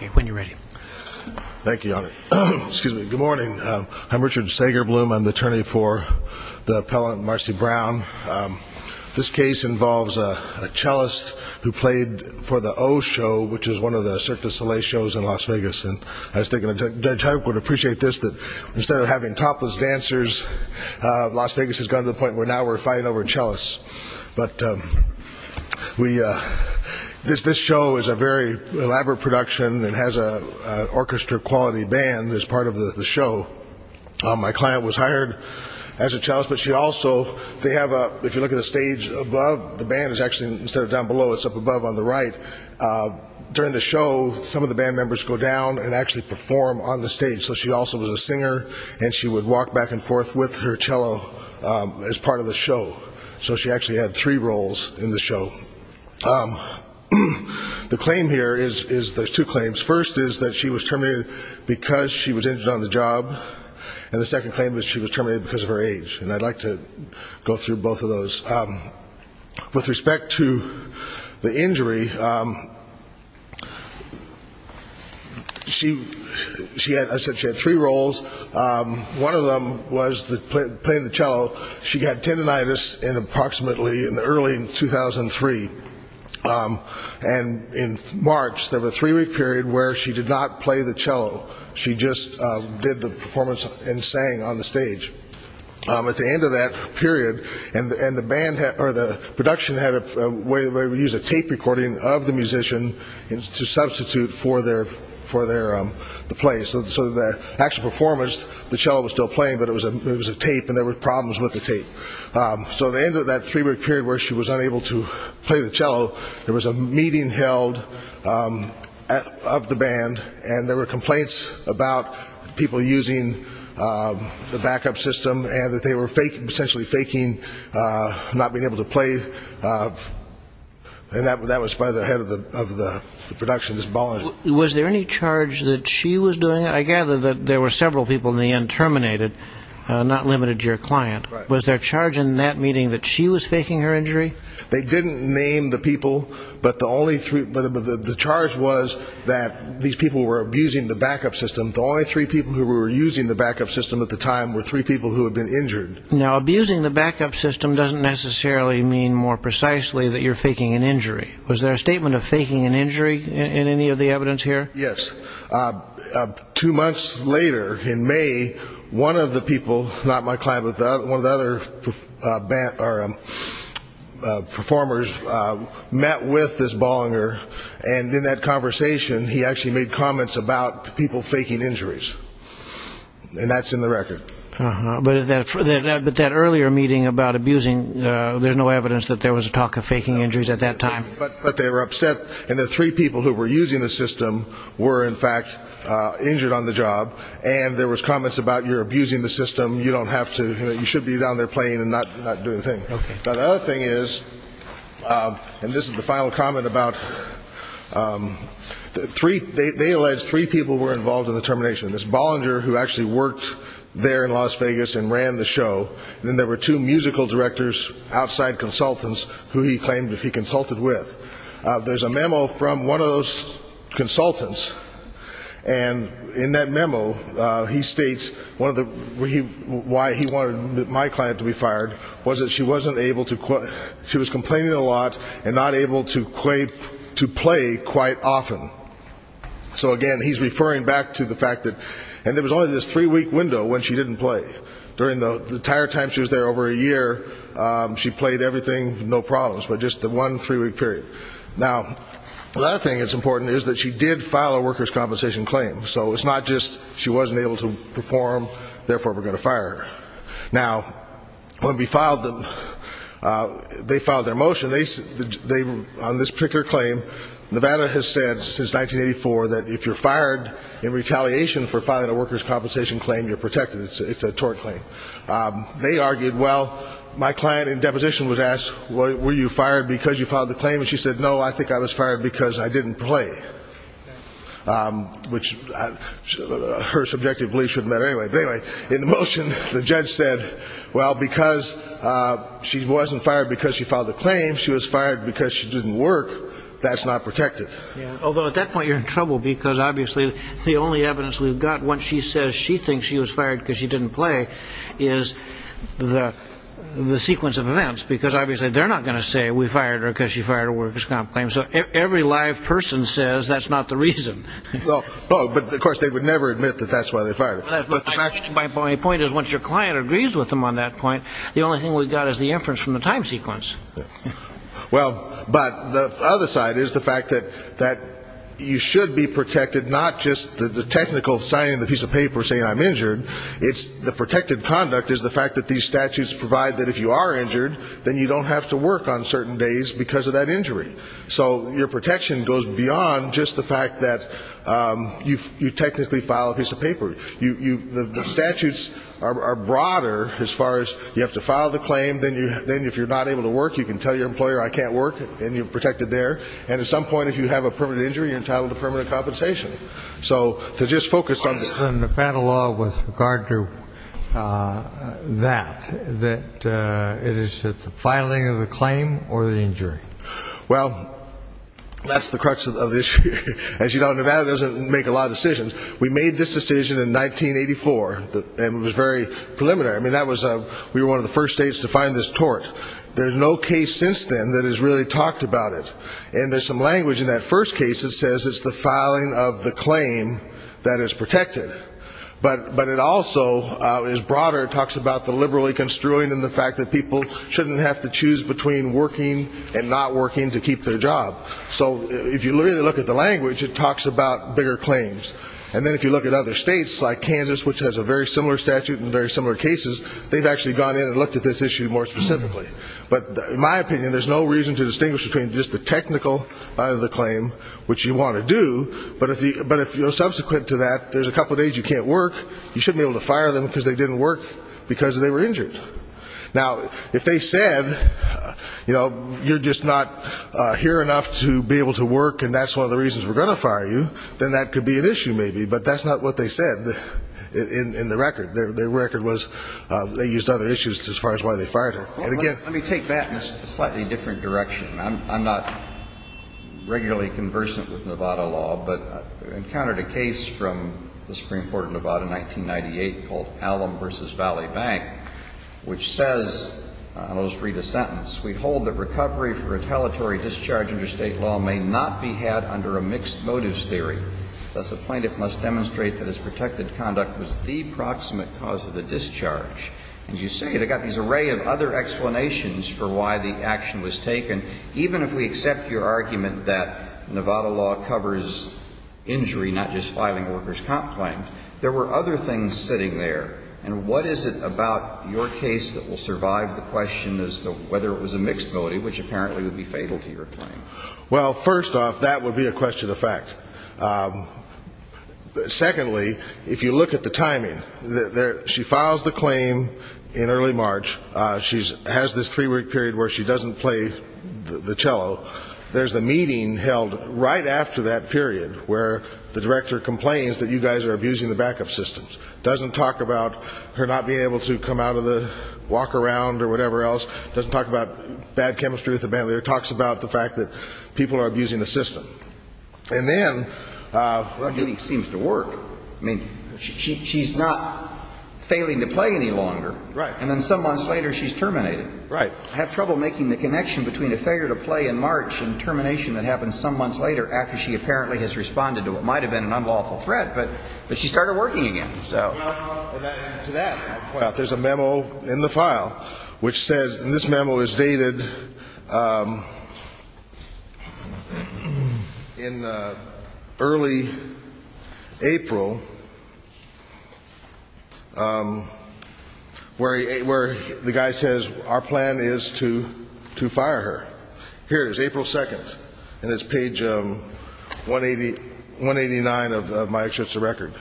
Okay, when you're ready. Thank you, Your Honor. Excuse me. Good morning. I'm Richard Sagerbloom. I'm the attorney for the appellant Marcy Brown. This case involves a cellist who played for the O Show, which is one of the Cirque Du Soleil shows in Las Vegas, and I was thinking Judge Huyck would appreciate this, that instead of having topless dancers, Las Vegas has gone to the point where now we're fighting over a cellist. But this show is a very elaborate production and has an orchestra-quality band as part of the show. My client was hired as a cellist, but she also, they have a, if you look at the stage above, the band is actually, instead of down below, it's up above on the right. During the show, some of the band members go down and actually perform on the stage, so she also was a singer, and she would walk back and forth with her cello as part of the show. So she actually had three roles in the show. The claim here is, there's two claims. First is that she was terminated because she was injured on the job, and the second claim is she was terminated because of her age, and I'd like to go through both of those. With respect to the injury, I said she had three roles. One of them was playing the cello. She got tendinitis in approximately, in early 2003, and in March, there was a three-week period where she did not play the cello. She just did the performance and sang on the stage. At the end of that period, and the band, or the production had a way where we used a tape recording of the musician to substitute for the play. So the actual performance, the cello was still playing, but it was a tape, and there were problems with the tape. So at the end of that three-week period where she was unable to play the cello, there was a meeting held of the band, and there were complaints about people using the backup system, and that they were essentially faking not being able to play, and that was by the head of the production, Ms. Bolling. Was there any charge that she was doing it? I gather that there were several people in the end terminated, not limited to your client. Was there charge in that meeting that she was faking her injury? They didn't name the people, but the charge was that these people were abusing the backup system. The only three people who were using the backup system at the time were three people who had been injured. Now, abusing the backup system doesn't necessarily mean more precisely that you're faking an injury. Was there a statement of faking an injury in any of the evidence here? Yes. In fact, two months later, in May, one of the people, not my client, but one of the other performers met with Ms. Bollinger, and in that conversation, he actually made comments about people faking injuries, and that's in the record. But that earlier meeting about abusing, there's no evidence that there was a talk of faking injuries at that time. But they were upset, and the three people who were using the system were, in fact, injured on the job, and there was comments about, you're abusing the system, you don't have to, you should be down there playing and not doing a thing. Now, the other thing is, and this is the final comment about, they allege three people were involved in the termination. There's Bollinger, who actually worked there in Las Vegas and ran the show, and then there were two musical directors, outside consultants, who he claimed that he consulted with. There's a memo from one of those consultants, and in that memo, he states why he wanted my client to be fired, was that she wasn't able to, she was complaining a lot, and not able to play quite often. So again, he's referring back to the fact that, and there was only this three-week window when she didn't play. During the entire time she was there, over a year, she played everything, no problems, but just the one three-week period. Now, the other thing that's important is that she did file a workers' compensation claim, so it's not just she wasn't able to perform, therefore we're going to fire her. Now, when we filed them, they filed their motion, on this particular claim, Nevada has said since 1984 that if you're fired in retaliation for filing a workers' compensation claim, you're protected. It's a tort claim. They argued, well, my client in deposition was asked, were you fired because you filed the claim? And she said, no, I think I was fired because I didn't play, which her subjective belief shouldn't matter anyway. But anyway, in the motion, the judge said, well, because she wasn't fired because she filed the claim, she was fired because she didn't work, that's not protected. Although, at that point, you're in trouble, because obviously, the only evidence we've got that she was fired because she didn't play is the sequence of events, because obviously they're not going to say we fired her because she fired a workers' comp claim. So every live person says that's not the reason. Oh, but of course, they would never admit that that's why they fired her. My point is, once your client agrees with them on that point, the only thing we've got is the inference from the time sequence. Well, but the other side is the fact that you should be protected, not just the technical signing the piece of paper saying I'm injured, it's the protected conduct is the fact that these statutes provide that if you are injured, then you don't have to work on certain days because of that injury. So your protection goes beyond just the fact that you technically file a piece of paper. The statutes are broader as far as you have to file the claim, then if you're not able to work, you can tell your employer I can't work, and you're protected there. And at some point, if you have a permanent injury, you're entitled to permanent compensation. So to just focus on this. What's the Nevada law with regard to that, that it is the filing of the claim or the injury? Well, that's the crux of the issue. As you know, Nevada doesn't make a lot of decisions. We made this decision in 1984, and it was very preliminary. I mean, we were one of the first states to find this tort. There's no case since then that has really talked about it. And there's some language in that first case that says it's the filing of the claim that is protected. But it also is broader. It talks about the liberally construing and the fact that people shouldn't have to choose between working and not working to keep their job. So if you really look at the language, it talks about bigger claims. And then if you look at other states like Kansas, which has a very similar statute and very similar cases, they've actually gone in and looked at this issue more specifically. But in my opinion, there's no reason to distinguish between just the technical of the claim, which you want to do, but if you're subsequent to that, there's a couple of days you can't work, you shouldn't be able to fire them because they didn't work because they were injured. Now, if they said, you know, you're just not here enough to be able to work and that's one of the reasons we're going to fire you, then that could be an issue maybe. But that's not what they said in the record. Their record was they used other issues as far as why they fired her. Let me take that in a slightly different direction. I'm not regularly conversant with Nevada law, but I encountered a case from the Supreme Court of Nevada in 1998 called Allam v. Valley Bank, which says, I'll just read a sentence. We hold that recovery for retaliatory discharge under state law may not be had under a mixed motives theory. Thus, a plaintiff must demonstrate that his protected conduct was the proximate cause of the discharge. And you say they've got this array of other explanations for why the action was taken. Even if we accept your argument that Nevada law covers injury, not just filing a worker's comp claim, there were other things sitting there. And what is it about your case that will survive the question as to whether it was a mixed motive, which apparently would be fatal to your claim? Well, first off, that would be a question of fact. Secondly, if you look at the timing, she files the claim in early March. She has this three-week period where she doesn't play the cello. There's a meeting held right after that period where the director complains that you guys are abusing the backup systems. It doesn't talk about her not being able to come out of the walk around or whatever else. It doesn't talk about bad chemistry with the band leader. It talks about the fact that people are abusing the system. And then... Well, it seems to work. I mean, she's not failing to play any longer, and then some months later, she's terminated. Right. I have trouble making the connection between a failure to play in March and termination that happened some months later after she apparently has responded to what might have been an unlawful threat, but she started working again. So... Well, to that point... There's a memo in the file which says, and this memo is dated in early April, where the guy says, our plan is to fire her. Here it is, April 2nd, and it's page 189 of my extracurricular record.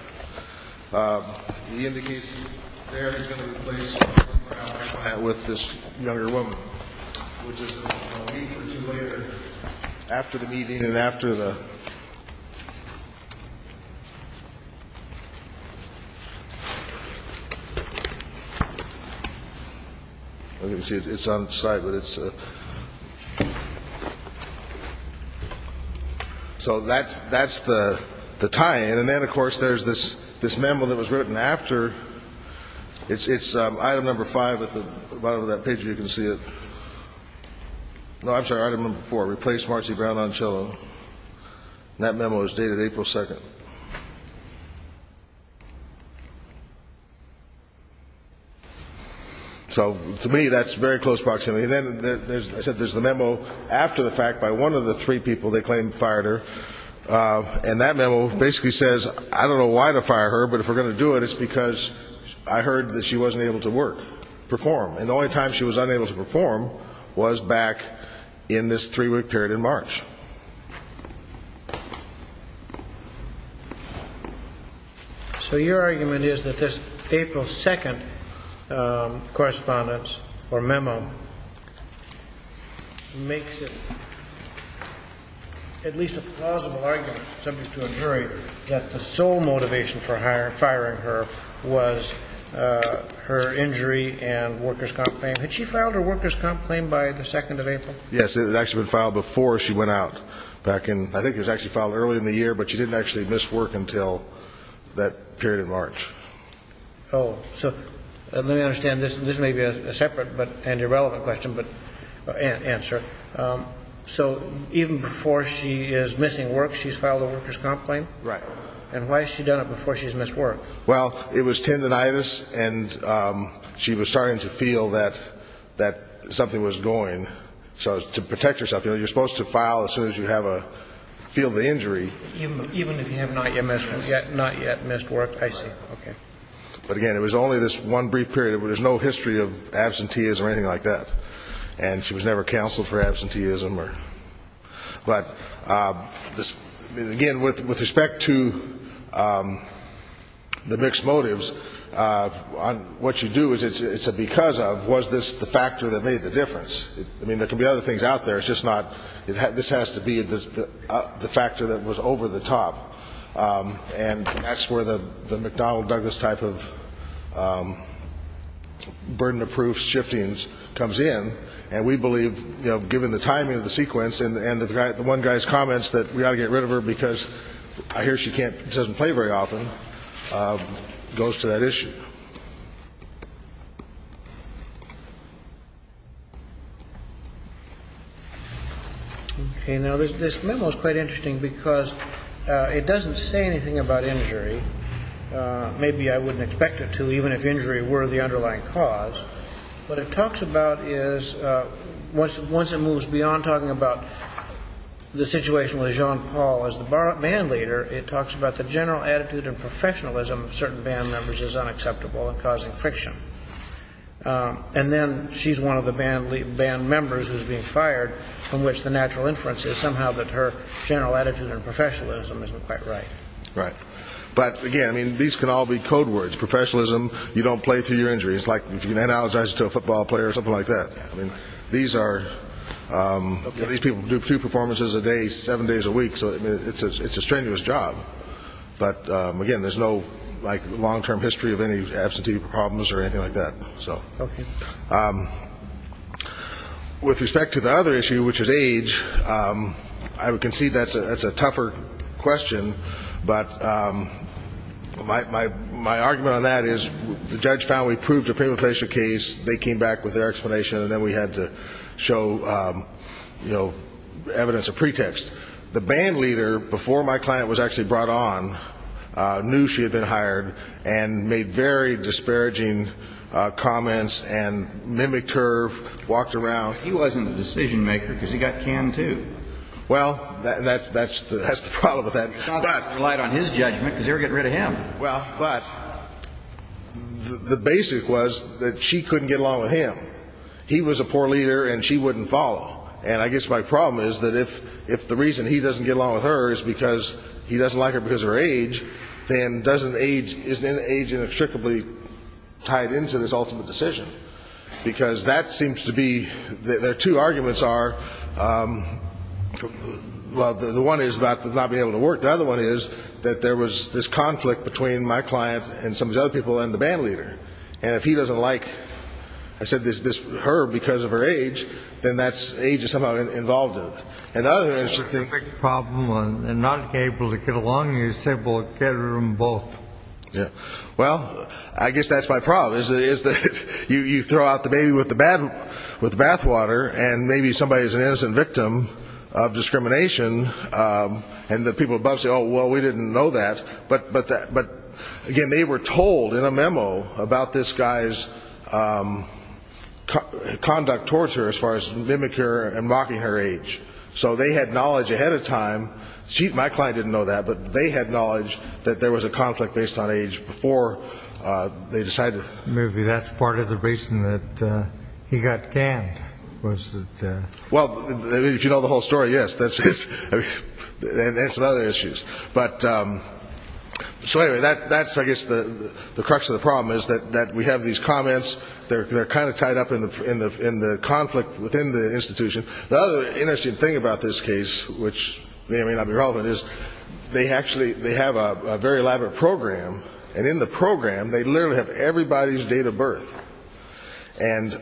The indication there is going to be a place where I'll have a chat with this younger woman, which is a week or two later, after the meeting and after the... You can see it's on site, but it's... So that's the tie-in. And then, of course, there's this memo that was written after. It's item number five at the bottom of that page, if you can see it. No, I'm sorry, item number four, replace Marcy Brown on cello. And that memo is dated April 2nd. So, to me, that's very close proximity. I said there's the memo after the fact by one of the three people they claimed fired her. And that memo basically says, I don't know why to fire her, but if we're going to do it, it's because I heard that she wasn't able to work, perform. And the only time she was unable to perform was back in this three-week period in March. So your argument is that this April 2nd correspondence or memo makes it at least a plausible argument, subject to a jury, that the sole motivation for firing her was her injury and workers' comp claim. Had she filed her workers' comp claim by the 2nd of April? Yes, it had actually been filed before she went out. I think it was actually filed early in the year, but she didn't actually miss work until that period in March. Oh, so let me understand. This may be a separate and irrelevant question, but answer. So even before she is missing work, she's filed a workers' comp claim? Right. And why has she done it before she's missed work? Well, it was tendinitis, and she was starting to feel that something was going. So to protect herself, you know, you're supposed to file as soon as you feel the injury. Even if you have not yet missed work? Not yet missed work. I see. Okay. But again, it was only this one brief period. There's no history of absenteeism or anything like that. And she was never counseled for absenteeism. But again, with respect to the mixed motives, what you do is it's a because of, was this the factor that made the difference? I mean, there can be other things out there. It's just not this has to be the factor that was over the top. And that's where the McDonnell-Douglas type of burden of proof shifting comes in. And we believe, you know, given the timing of the sequence and the one guy's comments that we ought to get rid of her because I hear she can't, doesn't play very often, goes to that issue. Okay. Now, this memo is quite interesting because it doesn't say anything about injury. Maybe I wouldn't expect it to, even if injury were the underlying cause. What it talks about is once it moves beyond talking about the situation with Jean Paul as the band leader, it talks about the general attitude and professionalism of certain band members as unacceptable and causing friction. And then she's one of the band members who's being fired, from which the natural inference is somehow that her general attitude and professionalism isn't quite right. Right. But, again, I mean, these can all be code words. Professionalism, you don't play through your injuries. It's like if you analogize it to a football player or something like that. I mean, these people do a few performances a day, seven days a week, so it's a strenuous job. But, again, there's no, like, long-term history of any absentee problems or anything like that. Okay. With respect to the other issue, which is age, I would concede that's a tougher question. But my argument on that is the judge found we proved a painful facial case. They came back with their explanation, and then we had to show, you know, evidence of pretext. The band leader, before my client was actually brought on, knew she had been hired and made very disparaging comments and mimicked her, walked around. He wasn't the decision-maker because he got canned, too. Well, that's the problem with that. He relied on his judgment because they were getting rid of him. Well, but the basic was that she couldn't get along with him. He was a poor leader, and she wouldn't follow. And I guess my problem is that if the reason he doesn't get along with her is because he doesn't like her because of her age, then isn't age inextricably tied into this ultimate decision? Because that seems to be the two arguments are, well, the one is about not being able to work. The other one is that there was this conflict between my client and some of these other people and the band leader. And if he doesn't like, I said, her because of her age, then age is somehow involved in it. And the other is she thinks... That's a big problem on not being able to get along. He said, well, get rid of them both. Well, I guess that's my problem, is that you throw out the baby with the bathwater, and maybe somebody is an innocent victim of discrimination, and the people above say, oh, well, we didn't know that. But, again, they were told in a memo about this guy's conduct towards her as far as mimic her and mocking her age. So they had knowledge ahead of time. My client didn't know that, but they had knowledge that there was a conflict based on age before they decided. Maybe that's part of the reason that he got canned. Well, if you know the whole story, yes, and some other issues. But so anyway, that's, I guess, the crux of the problem, is that we have these comments. They're kind of tied up in the conflict within the institution. The other interesting thing about this case, which may or may not be relevant, is they actually have a very elaborate program. And in the program, they literally have everybody's date of birth. And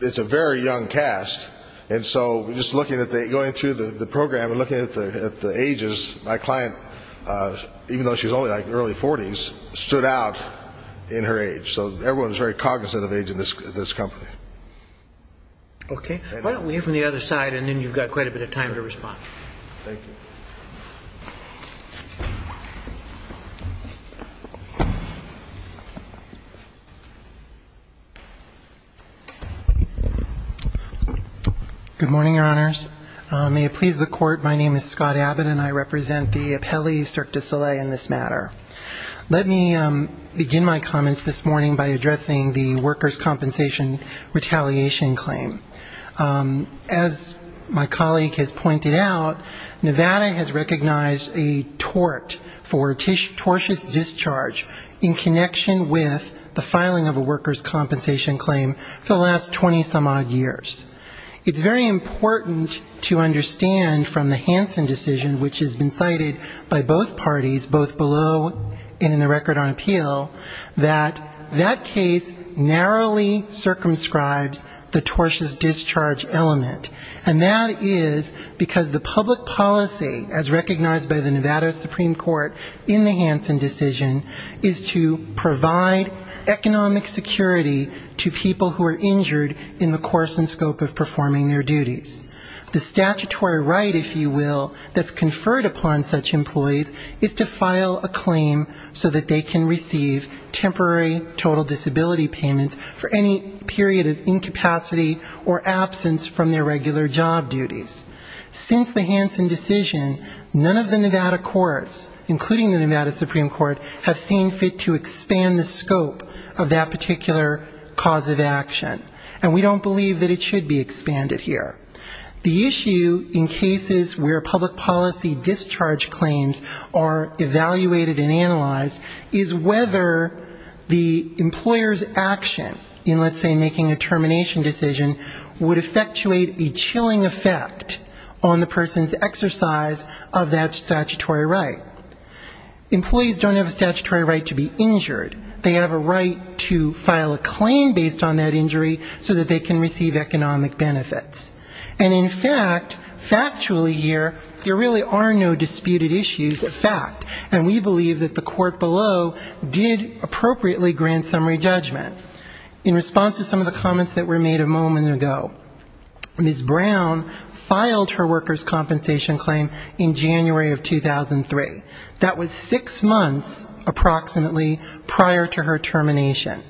it's a very young cast. And so just going through the program and looking at the ages, my client, even though she was only in her early 40s, stood out in her age. So everyone is very cognizant of age in this company. Okay. Why don't we hear from the other side, and then you've got quite a bit of time to respond. Thank you. Good morning, Your Honors. May it please the Court, my name is Scott Abbott, and I represent the Appellee Cirque du Soleil in this matter. Let me begin my comments this morning by addressing the workers' compensation retaliation claim. As my colleague has pointed out, Nevada has recognized a tort for tortious discharge in connection with the filing of a workers' compensation claim for the last 20-some-odd years. It's very important to understand from the Hansen decision, which has been cited by both parties, both below and in the record on appeal, that that case narrowly circumscribes the tortious discharge element. And that is because the public policy, as recognized by the Nevada Supreme Court in the Hansen decision, is to provide economic security to people who are injured in the course and scope of performing their duties. The statutory right, if you will, that's conferred upon such employees is to file a claim so that they can receive temporary total disability payments for any period of incapacity or absence from their regular job duties. Since the Hansen decision, none of the Nevada courts, including the Nevada Supreme Court, have seen fit to expand the scope of that particular cause of action. And we don't believe that it should be expanded here. The issue in cases where public policy discharge claims are evaluated and analyzed is whether the employer's action in, let's say, making a termination decision would effectuate a chilling effect on the person's exercise of that statutory right. Employees don't have a statutory right to be injured. They have a right to file a claim based on that injury so that they can receive economic benefits. And in fact, factually here, there really are no disputed issues of fact, and we believe that the court below did appropriately grant summary judgment. In response to some of the comments that were made a moment ago, Ms. Brown filed her workers' compensation claim in January of 2003. That was six months, approximately, prior to her termination.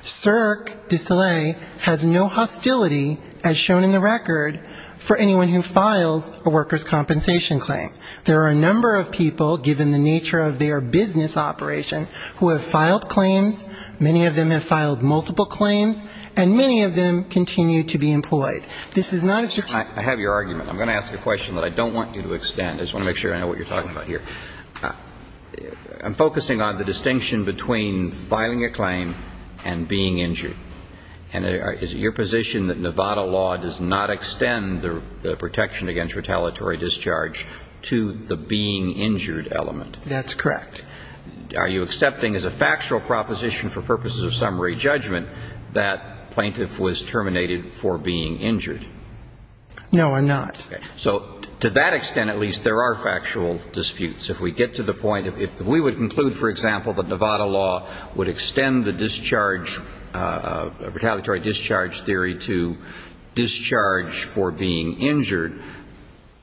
Cirque du Soleil has no hostility, as shown in the record, for anyone who files a workers' compensation claim. There are a number of people, given the nature of their business operation, who have filed claims. Many of them have filed multiple claims, and many of them continue to be employed. This is not a statutory right. I'm going to ask a question that I don't want you to extend. I just want to make sure I know what you're talking about here. I'm focusing on the distinction between filing a claim and being injured. And is it your position that Nevada law does not extend the protection against retaliatory discharge to the being injured element? That's correct. Are you accepting, as a factual proposition for purposes of summary judgment, that plaintiff was terminated for being injured? No, I'm not. Okay. So to that extent, at least, there are factual disputes. If we get to the point, if we would conclude, for example, that Nevada law would extend the discharge, retaliatory discharge theory to discharge for being injured,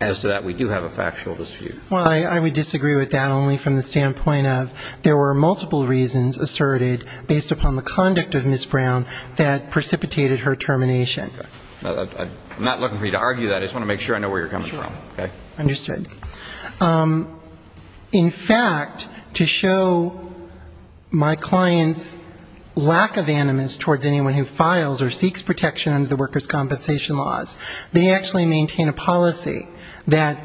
as to that, we do have a factual dispute. Well, I would disagree with that, only from the standpoint of there were multiple reasons asserted, based upon the conduct of Ms. Brown, that precipitated her termination. I'm not looking for you to argue that. I just want to make sure I know where you're coming from. Sure. Understood. In fact, to show my client's lack of animus towards anyone who files or seeks protection under the workers' compensation laws, they actually maintain a policy that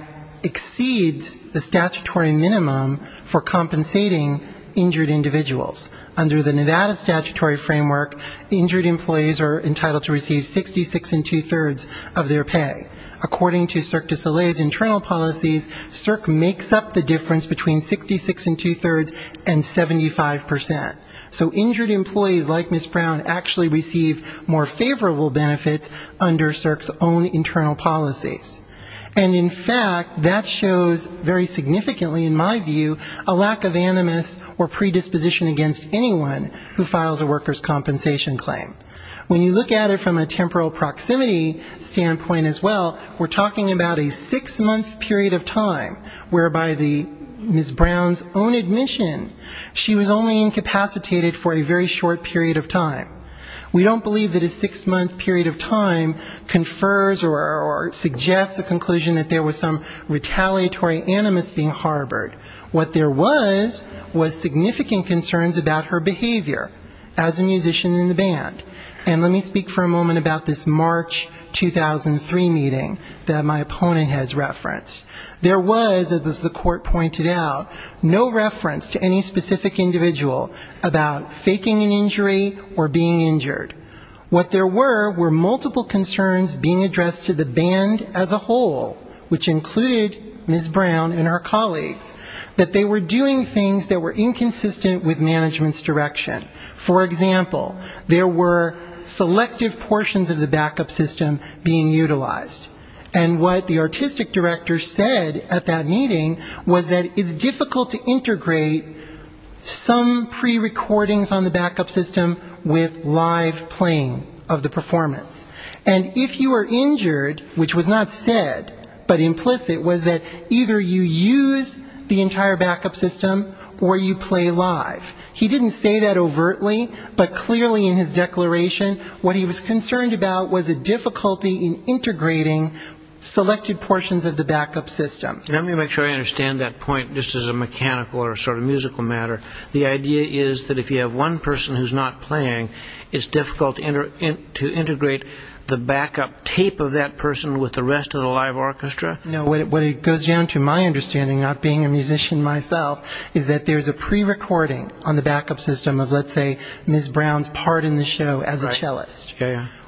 exceeds the statutory minimum for compensating injured individuals. Under the Nevada statutory framework, injured employees are entitled to receive 66 and two-thirds of their pay. According to CERC de Soleil's internal policies, CERC makes up the difference between 66 and two-thirds and 75 percent. So injured employees, like Ms. Brown, actually receive more favorable benefits under CERC's own policy. And in fact, that shows very significantly, in my view, a lack of animus or predisposition against anyone who files a workers' compensation claim. When you look at it from a temporal proximity standpoint as well, we're talking about a six-month period of time, whereby the Ms. Brown's own admission, she was only incapacitated for a very short period of time. We don't believe that a six-month period of time confers or suggests a conclusion that there was some retaliatory animus being harbored. What there was was significant concerns about her behavior as a musician in the band. And let me speak for a moment about this March 2003 meeting that my opponent has referenced. There was, as the court pointed out, no reference to any specific individual about faking an injury or being a victim. There was no reference to any individual being injured. What there were were multiple concerns being addressed to the band as a whole, which included Ms. Brown and her colleagues, that they were doing things that were inconsistent with management's direction. For example, there were selective portions of the backup system being utilized. And what the artistic director said at that meeting was that it's difficult to integrate some prerecordings on the backup system with live playing of the performance. And if you were injured, which was not said, but implicit, was that either you use the entire backup system or you play live. He didn't say that overtly, but clearly in his declaration, what he was concerned about was a difficulty in integrating selected portions of the backup system. And let me make sure I understand that point, just as a mechanical or sort of musical matter. The idea is that if you have one person who's not playing, it's difficult to integrate the backup tape of that person with the rest of the live orchestra? No, what it goes down to, my understanding, not being a musician myself, is that there's a prerecording on the backup system of, let's say, Ms. Brown's part in the show as a cellist.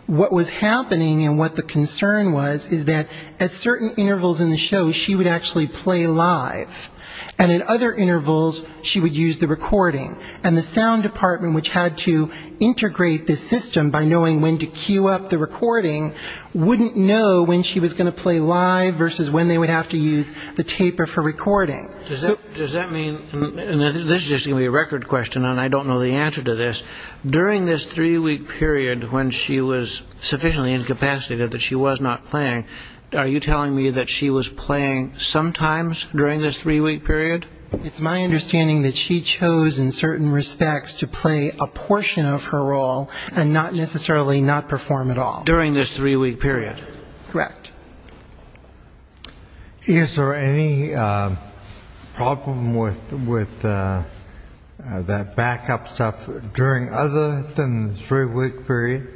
What was happening and what the concern was is that at certain intervals in the show, she would actually play live. And at other intervals, she would use the recording. And the sound department, which had to integrate this system by knowing when to cue up the recording, wouldn't know when she was going to play live versus when they would have to use the tape of her recording. Does that mean, and this is just going to be a record question and I don't know the answer to this, during this three-week period when she was sufficiently incapacitated that she was not playing, are you telling me that she was playing sometimes during this three-week period? It's my understanding that she chose in certain respects to play a portion of her role and not necessarily not perform at all. During this three-week period? Correct. Is there any problem with that backup stuff during other than the three-week period?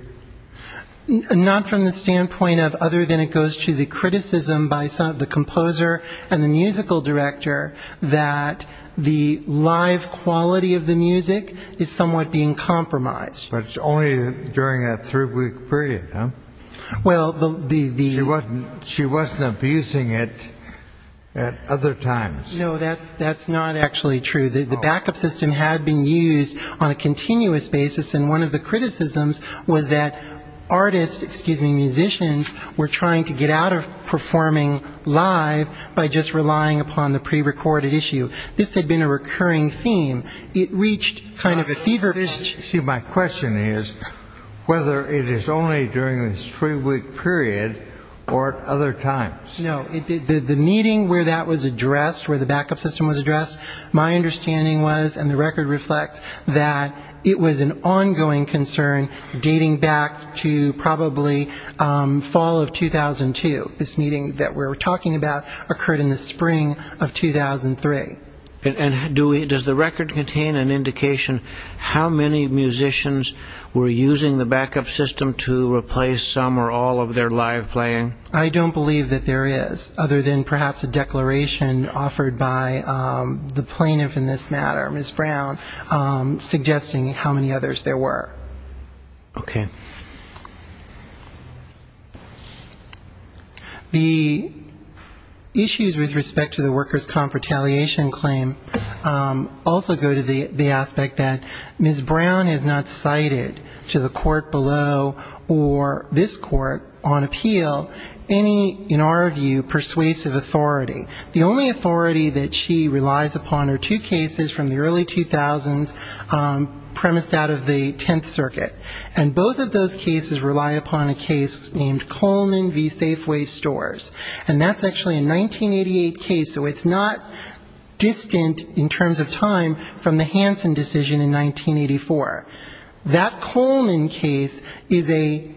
Not from the standpoint of other than it goes to the criticism by the composer and the musical director that the live quality of the music is somewhat being compromised. But it's only during that three-week period, huh? She wasn't abusing it at other times. No, that's not actually true. The backup system had been used on a continuous basis and one of the criticisms was that artists, excuse me, musicians were trying to get out of performing live by just relying upon the prerecorded issue. This had been a recurring theme. It reached kind of a fever pitch. See, my question is whether it is only during this three-week period or other times? My understanding was, and the record reflects, that it was an ongoing concern dating back to probably fall of 2002. This meeting that we're talking about occurred in the spring of 2003. And does the record contain an indication how many musicians were using the backup system to replace some or all of their live playing? I don't believe that there is, other than perhaps a declaration offered by the plaintiff in this case. In this matter, Ms. Brown, suggesting how many others there were. Okay. The issues with respect to the workers' comp retaliation claim also go to the aspect that Ms. Brown is not cited to the court below or this court on appeal any, in our view, persuasive authority. The only authority that she relies upon are two cases from the early 2000s, premised out of the 10th Circuit. And both of those cases rely upon a case named Coleman v. Safeway Stores. And that's actually a 1988 case, so it's not distant in terms of time from the Hansen decision in 1984. That Coleman case is a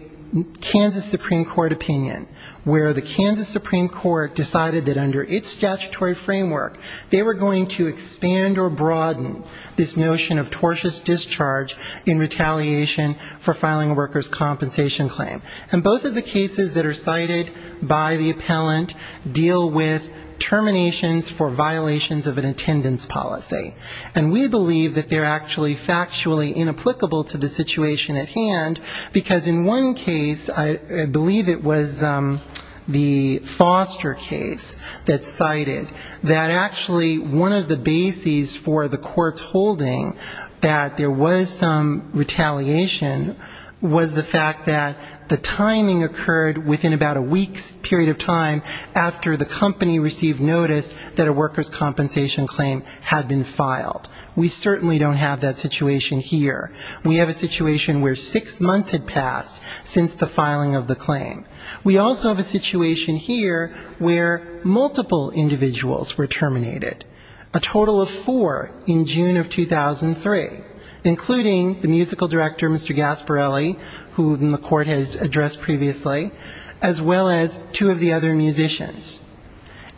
Kansas Supreme Court opinion, where the Kansas Supreme Court decided that under its decision, there was no reason for Ms. Brown to be cited. Under its statutory framework, they were going to expand or broaden this notion of tortious discharge in retaliation for filing a workers' compensation claim. And both of the cases that are cited by the appellant deal with terminations for violations of an attendance policy. And we believe that they're actually factually inapplicable to the situation at hand, because in one case, I believe it was the Foster case that cited Ms. Brown. And in that case, they decided that actually one of the bases for the court's holding that there was some retaliation was the fact that the timing occurred within about a week's period of time after the company received notice that a workers' compensation claim had been filed. We certainly don't have that situation here. We have a situation where six months had passed since the filing of the claim. And three individuals were terminated. A total of four in June of 2003, including the musical director, Mr. Gasparelli, who the court has addressed previously, as well as two of the other musicians.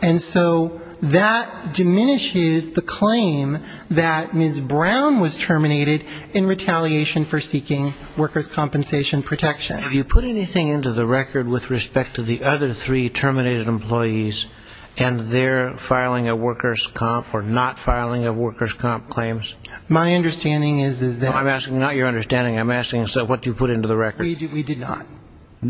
And so that diminishes the claim that Ms. Brown was terminated in retaliation for seeking workers' compensation protection. Have you put anything into the record with respect to the other three terminated employees and their filing of workers' comp or not filing of workers' comp claims? My understanding is that we did not.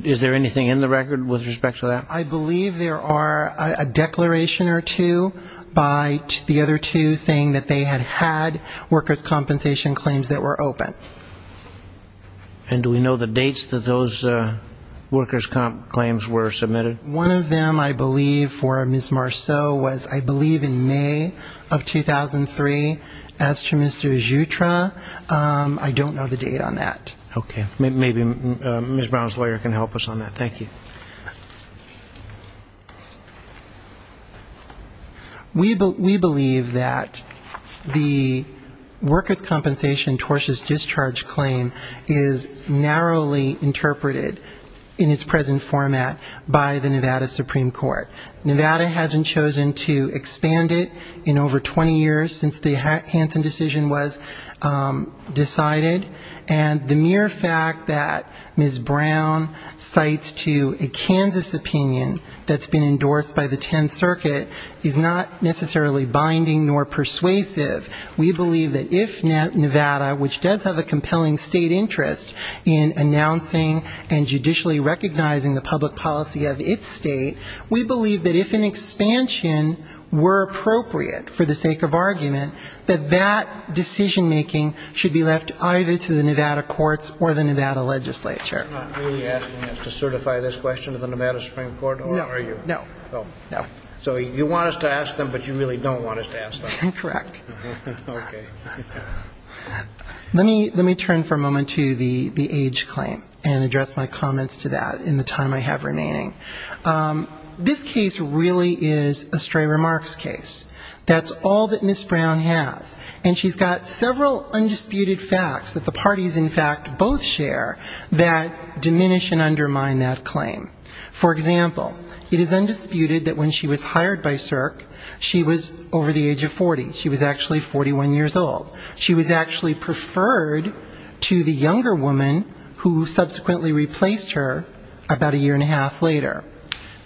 Is there anything in the record with respect to that? I believe there are a declaration or two by the other two saying that they had had workers' compensation claims that were open. And do we know the dates that those workers' comp claims were submitted? One of them, I believe, for Ms. Marceau was, I believe, in May of 2003. As to Mr. Jutra, I don't know the date on that. Okay. Maybe Ms. Brown's lawyer can help us on that. Thank you. We believe that the workers' compensation tortious discharge claim is narrowly interpreted in its present format by the Nevada Supreme Court. Nevada hasn't chosen to expand it in over 20 years since the Hansen decision was decided. And the mere fact that Ms. Brown cites to a Kansas opinion that's been endorsed by the 10th Circuit is not necessarily binding nor persuasive. We believe that if Nevada, which does have a compelling state interest in announcing and judicially recognizing the public policy of its state, we believe that if an expansion were appropriate for the sake of argument, that that decision-making should be left either open or closed. And that decision-making should be submitted to the Nevada courts or the Nevada legislature. You're not really asking us to certify this question to the Nevada Supreme Court, are you? No. No. So you want us to ask them, but you really don't want us to ask them? Incorrect. Let me turn for a moment to the age claim and address my comments to that in the time I have remaining. This case really is a stray remarks case. That's all that Ms. Brown has. And she's got several undisputed facts that the parties, in fact, both share that diminish and undermine that claim. For example, it is undisputed that when she was hired by CERC, she was over the age of 40. She's actually 41 years old. She was actually preferred to the younger woman who subsequently replaced her about a year and a half later.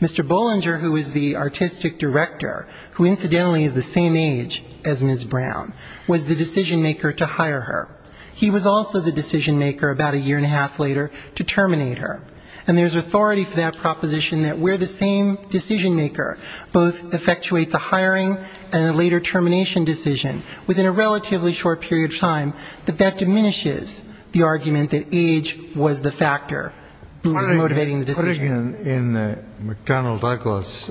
Mr. Bollinger, who is the artistic director, who incidentally is the same age as Ms. Brown, was the decision-maker to hire her. He was also the decision-maker about a year and a half later to terminate her. And there's authority for that proposition that we're the same decision-maker, both effectuates a hiring and a later termination decision. Within a relatively short period of time, that diminishes the argument that age was the factor that was motivating the decision. Putting it in the McDonnell-Douglas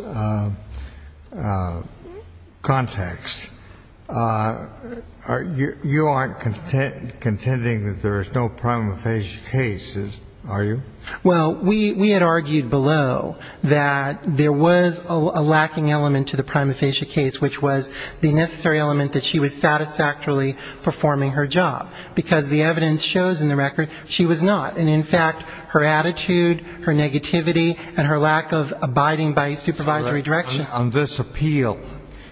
context, you aren't contending that there is no prima facie case, are you? Well, we had argued below that there was a lacking element to the prima facie case, which was the necessary element that she was satisfactorily performing her job. Because the evidence shows in the record she was not. And in fact, her attitude, her negativity, and her lack of abiding by supervisory direction. On this appeal,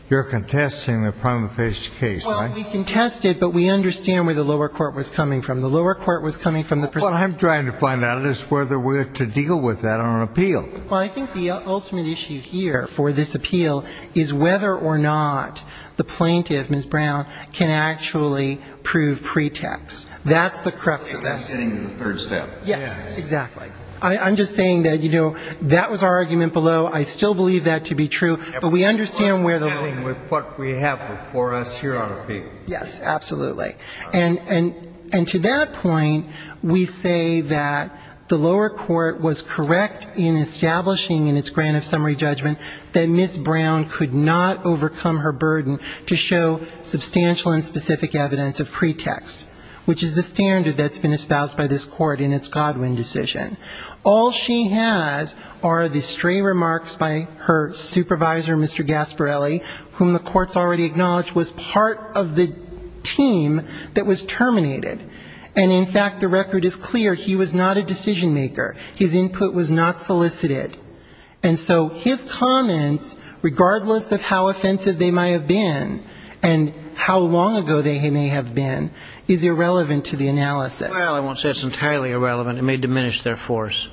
you're contesting the prima facie case, right? Well, we contested, but we understand where the lower court was coming from. The lower court was coming from the prison. What I'm trying to find out is whether we're to deal with that on an appeal. Well, I think the ultimate issue here for this appeal is whether or not the plaintiff, Ms. Brown, can actually prove pretext. That's the crux of this. If that's getting to the third step. Yes, exactly. I'm just saying that, you know, that was our argument below. I still believe that to be true, but we understand where the lower court was coming from. Yes, absolutely. And to that point, we say that the lower court was correct in establishing in its grant of summary judgment that Ms. Brown could not overcome her burden to show substantial and specific evidence of pretext, which is the standard that's been espoused by this court in its Godwin decision. All she has are the stray remarks by her supervisor, Mr. Gasparelli, whom the court's already acknowledged was part of the team that was terminated. And in fact, the record is clear. He was not a decision-maker. His input was not solicited. And so his comments, regardless of how offensive they may have been, and how long ago they may have been, is irrelevant to the analysis. Well, I won't say it's entirely irrelevant. It may diminish their force.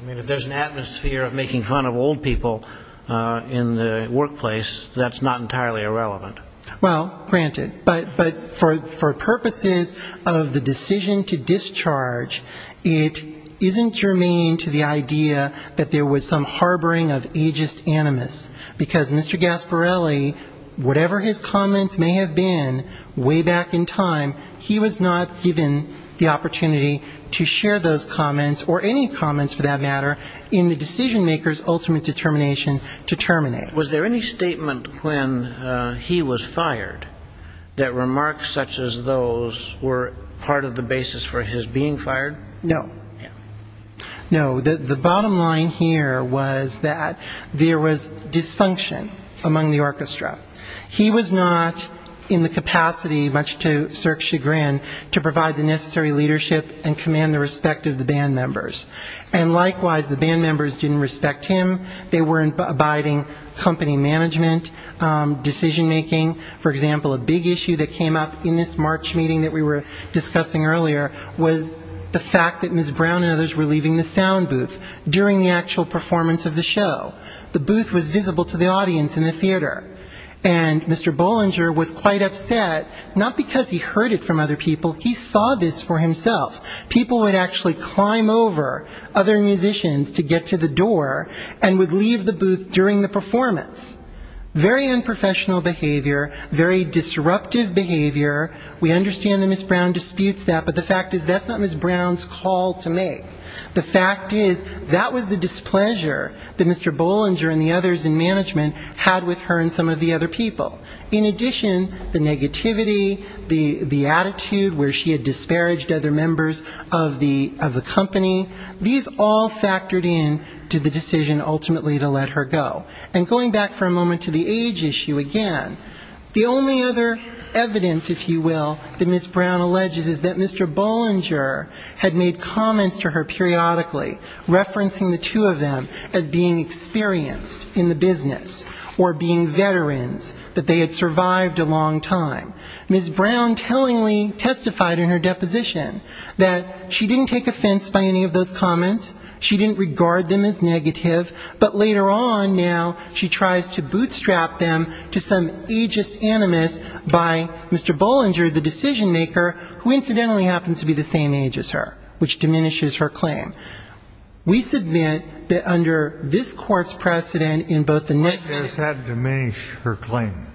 I mean, if there's an atmosphere of making fun of old people in the workplace, that's not entirely irrelevant. Well, granted. But for purposes of the decision to discharge, it isn't germane to the idea that Ms. Brown was a decision-maker. That there was some harboring of ageist animus. Because Mr. Gasparelli, whatever his comments may have been way back in time, he was not given the opportunity to share those comments, or any comments for that matter, in the decision-maker's ultimate determination to terminate. Was there any statement when he was fired that remarks such as those were part of the basis for his being fired? No. No. The bottom line here was that there was dysfunction among the orchestra. He was not in the capacity, much to Sirk's chagrin, to provide the necessary leadership and command the respect of the band members. And likewise, the band members didn't respect him. They weren't abiding company management, decision-making. For example, a big issue that came up in this March meeting that we were discussing earlier was the fact that Mr. Gasparelli was a decision-maker. The fact that Ms. Brown and others were leaving the sound booth during the actual performance of the show. The booth was visible to the audience in the theater. And Mr. Bollinger was quite upset, not because he heard it from other people, he saw this for himself. People would actually climb over other musicians to get to the door and would leave the booth during the performance. Very unprofessional behavior, very disruptive behavior. We understand that Ms. Brown disputes that, but the fact is that's not Ms. Brown's fault. It's Ms. Brown's call to make. The fact is that was the displeasure that Mr. Bollinger and the others in management had with her and some of the other people. In addition, the negativity, the attitude where she had disparaged other members of the company, these all factored in to the decision ultimately to let her go. And going back for a moment to the age issue again. The only other evidence, if you will, that Ms. Brown alleges is that Mr. Bollinger had made comments to her periodically, referencing the two of them as being experienced in the business or being veterans, that they had survived a long time. Ms. Brown tellingly testified in her deposition that she didn't take offense by any of those comments. She didn't regard them as negative. But later on now she tries to bootstrap them to some ageist animus by Mr. Bollinger, the decision-maker, who incidentally happens to be the same age as her, which diminishes her claim. We submit that under this court's precedent in both the NISCA and the NISCA... Why does that diminish her claim?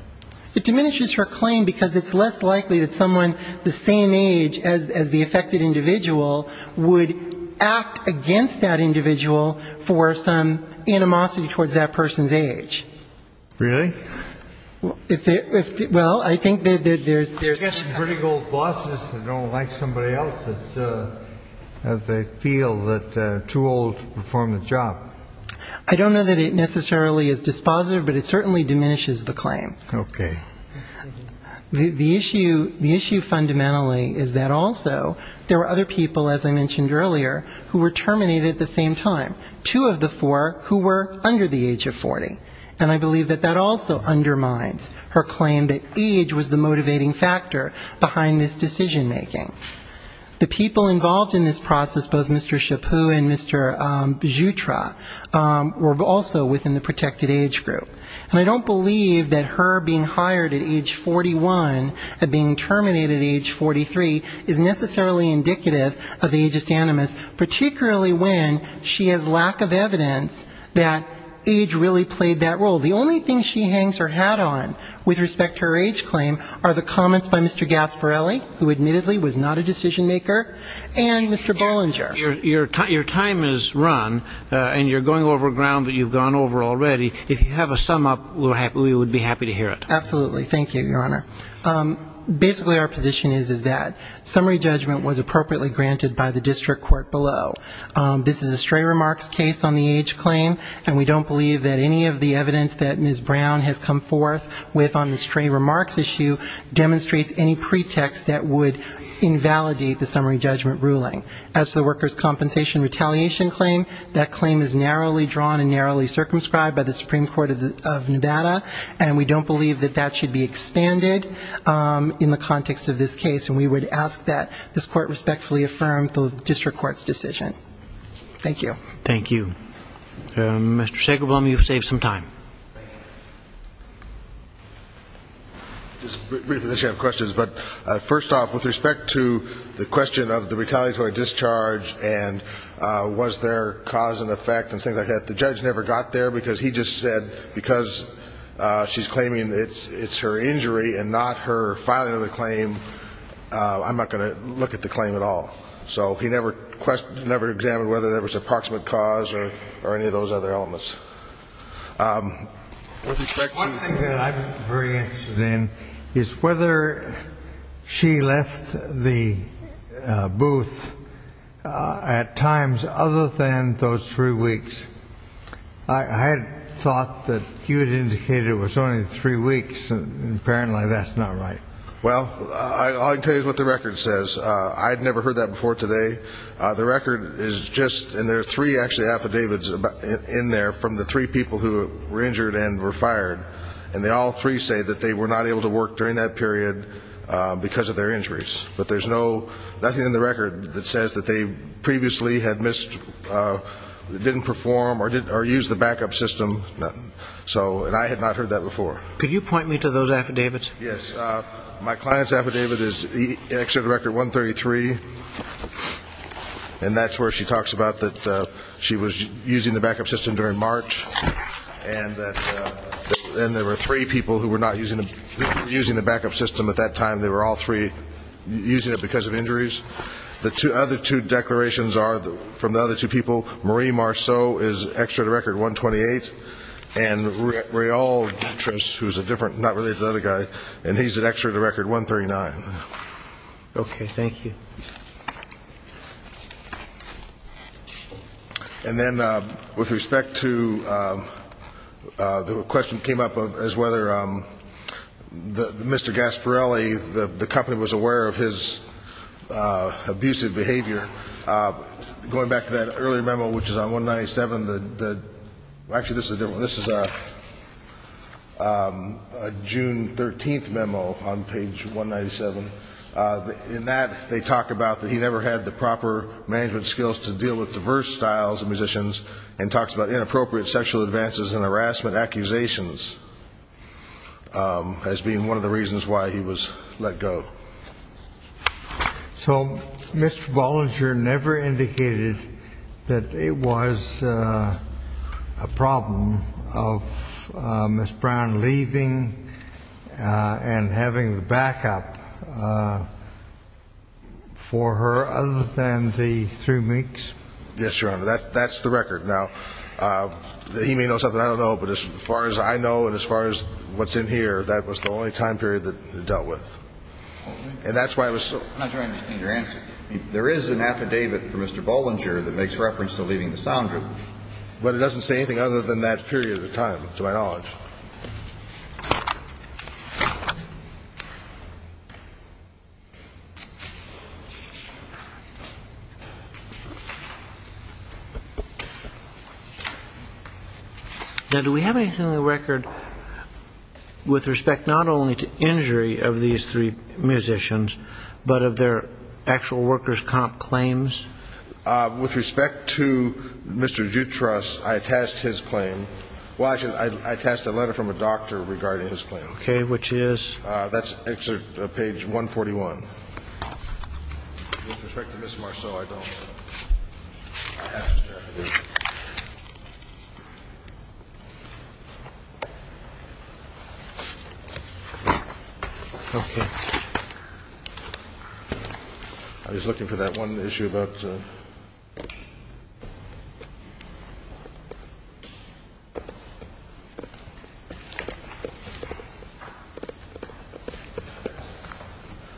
It diminishes her claim because it's less likely that someone the same age as the affected individual would act against that individual for some reason. It diminishes the animosity towards that person's age. Really? Well, I think that there's... I guess pretty old bosses don't like somebody else that they feel is too old to perform the job. I don't know that it necessarily is dispositive, but it certainly diminishes the claim. And I believe that that also undermines her claim that age was the motivating factor behind this decision-making. The people involved in this process, both Mr. Chaput and Mr. Jutra, were also within the protected age group. And I don't believe that her being hired at age 41 and being terminated at age 43 is necessarily indicative of ageist animus, particularly when she has lack of evidence that age really played that role. The only thing she hangs her hat on with respect to her age claim are the comments by Mr. Gasparelli, who admittedly was not a decision-maker, and Mr. Bollinger. Your time has run, and you're going over ground that you've gone over already. If you have a sum-up, we would be happy to hear it. Absolutely. Thank you, Your Honor. Basically our position is that summary judgment was appropriately granted by the district court below. This is a stray remarks case on the age claim, and we don't believe that any of the evidence that Ms. Brown has come forth with on the stray remarks issue demonstrates any pretext that would invalidate the summary judgment ruling. As to the workers' compensation retaliation claim, that claim is narrowly drawn and narrowly circumscribed by the Supreme Court of Nevada, and we don't believe that that should be expanded in the context of this case, and we would ask that this court respectfully affirm the district court's decision. Thank you. Thank you. Mr. Sagerblum, you've saved some time. Just briefly, I have questions, but first off, with respect to the question of the retaliatory discharge and was there cause and effect and whether there was an approximate cause, because he just said because she's claiming it's her injury and not her filing of the claim, I'm not going to look at the claim at all. So he never examined whether there was an approximate cause or any of those other elements. With respect to... One thing that I'm very interested in is whether she left the booth at times other than those three weeks. I had thought that you had indicated it was only three weeks, and apparently that's not right. Well, all I can tell you is what the record says. I had never heard that before today. The record is just, and there are three actually affidavits in there from the three people who were injured and were fired, and they all three say that they were not able to work during that period because of their injuries. But there's no, nothing in the record that says that they previously had missed, didn't perform, didn't have the capacity to work during that period. Didn't perform or use the backup system. And I had not heard that before. Could you point me to those affidavits? Yes. My client's affidavit is Exeter Record 133, and that's where she talks about that she was using the backup system during March, and that there were three people who were not using the backup system at that time. The other two declarations are from the other two people. Marie Marceau is Exeter Record 128, and Rialtris, who's a different, not related to the other guy, and he's at Exeter Record 139. Okay. Thank you. And then with respect to the question that came up as whether Mr. Gasparrelli, the company was aware of his injury, and they were able to get him out of the hospital. Going back to that earlier memo, which is on 197. Actually, this is a different one. This is a June 13th memo on page 197. In that, they talk about that he never had the proper management skills to deal with diverse styles of musicians, and talks about inappropriate sexual advances and harassment accusations as being one of the reasons why he was let go. But Mr. Bollinger never indicated that it was a problem of Ms. Brown leaving and having the backup for her other than the three weeks? Yes, Your Honor. That's the record. Now, he may know something I don't know, but as far as I know and as far as what's in here, that was the only time period that he dealt with. And that's why I was so... I'm not sure I understand your answer. There is an affidavit for Mr. Bollinger that makes reference to leaving the sound room. But it doesn't say anything other than that period of time, to my knowledge. Now, do we have anything on the record with respect not only to injury of these three musicians, but of their actual workers' comp claims? With respect to Mr. Jutras, I attached his claim. Well, I attached a letter from a doctor regarding his claim. Okay, which is? That's actually page 141. With respect to Ms. Marceau, I don't... Okay. I was looking for that one issue about...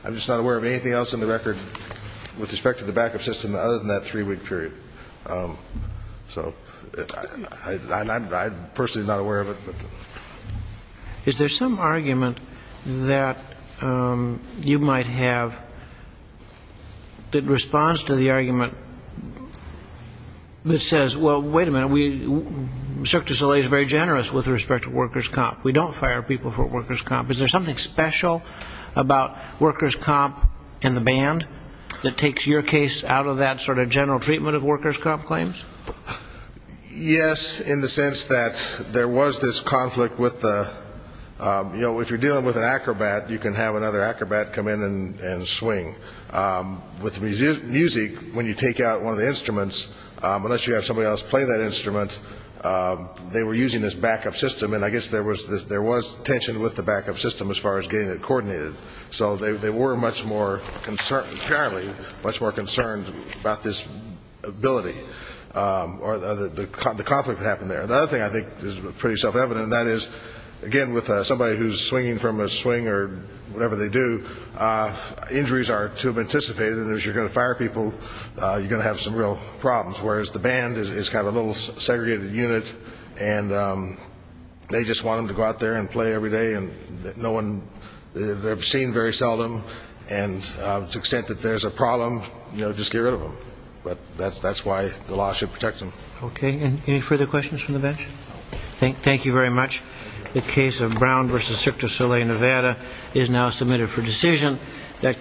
I'm just not aware of anything else on the record with respect to the backup system other than that three-week period. So I'm personally not aware of it. Is there some argument that you might have that responds to the argument that says, well, wait a minute, we... Is there something special about workers' comp and the band that takes your case out of that sort of general treatment of workers' comp claims? Yes, in the sense that there was this conflict with the... You know, if you're dealing with an acrobat, you can have another acrobat come in and swing. With music, when you take out one of the instruments, unless you have somebody else play that instrument, they were using this backup system. And I guess there was tension with the backup system as far as getting it coordinated. So they were much more concerned, apparently, much more concerned about this ability or the conflict that happened there. The other thing I think is pretty self-evident, and that is, again, with somebody who's swinging from a swing or whatever they do, injuries are too anticipated. And as you're going to fire people, you're going to have some real problems. Whereas the band is kind of a little segregated unit, and they just want them to go out there and play every day. And no one... They're seen very seldom. And to the extent that there's a problem, just get rid of them. But that's why the law should protect them. Okay. Any further questions from the bench?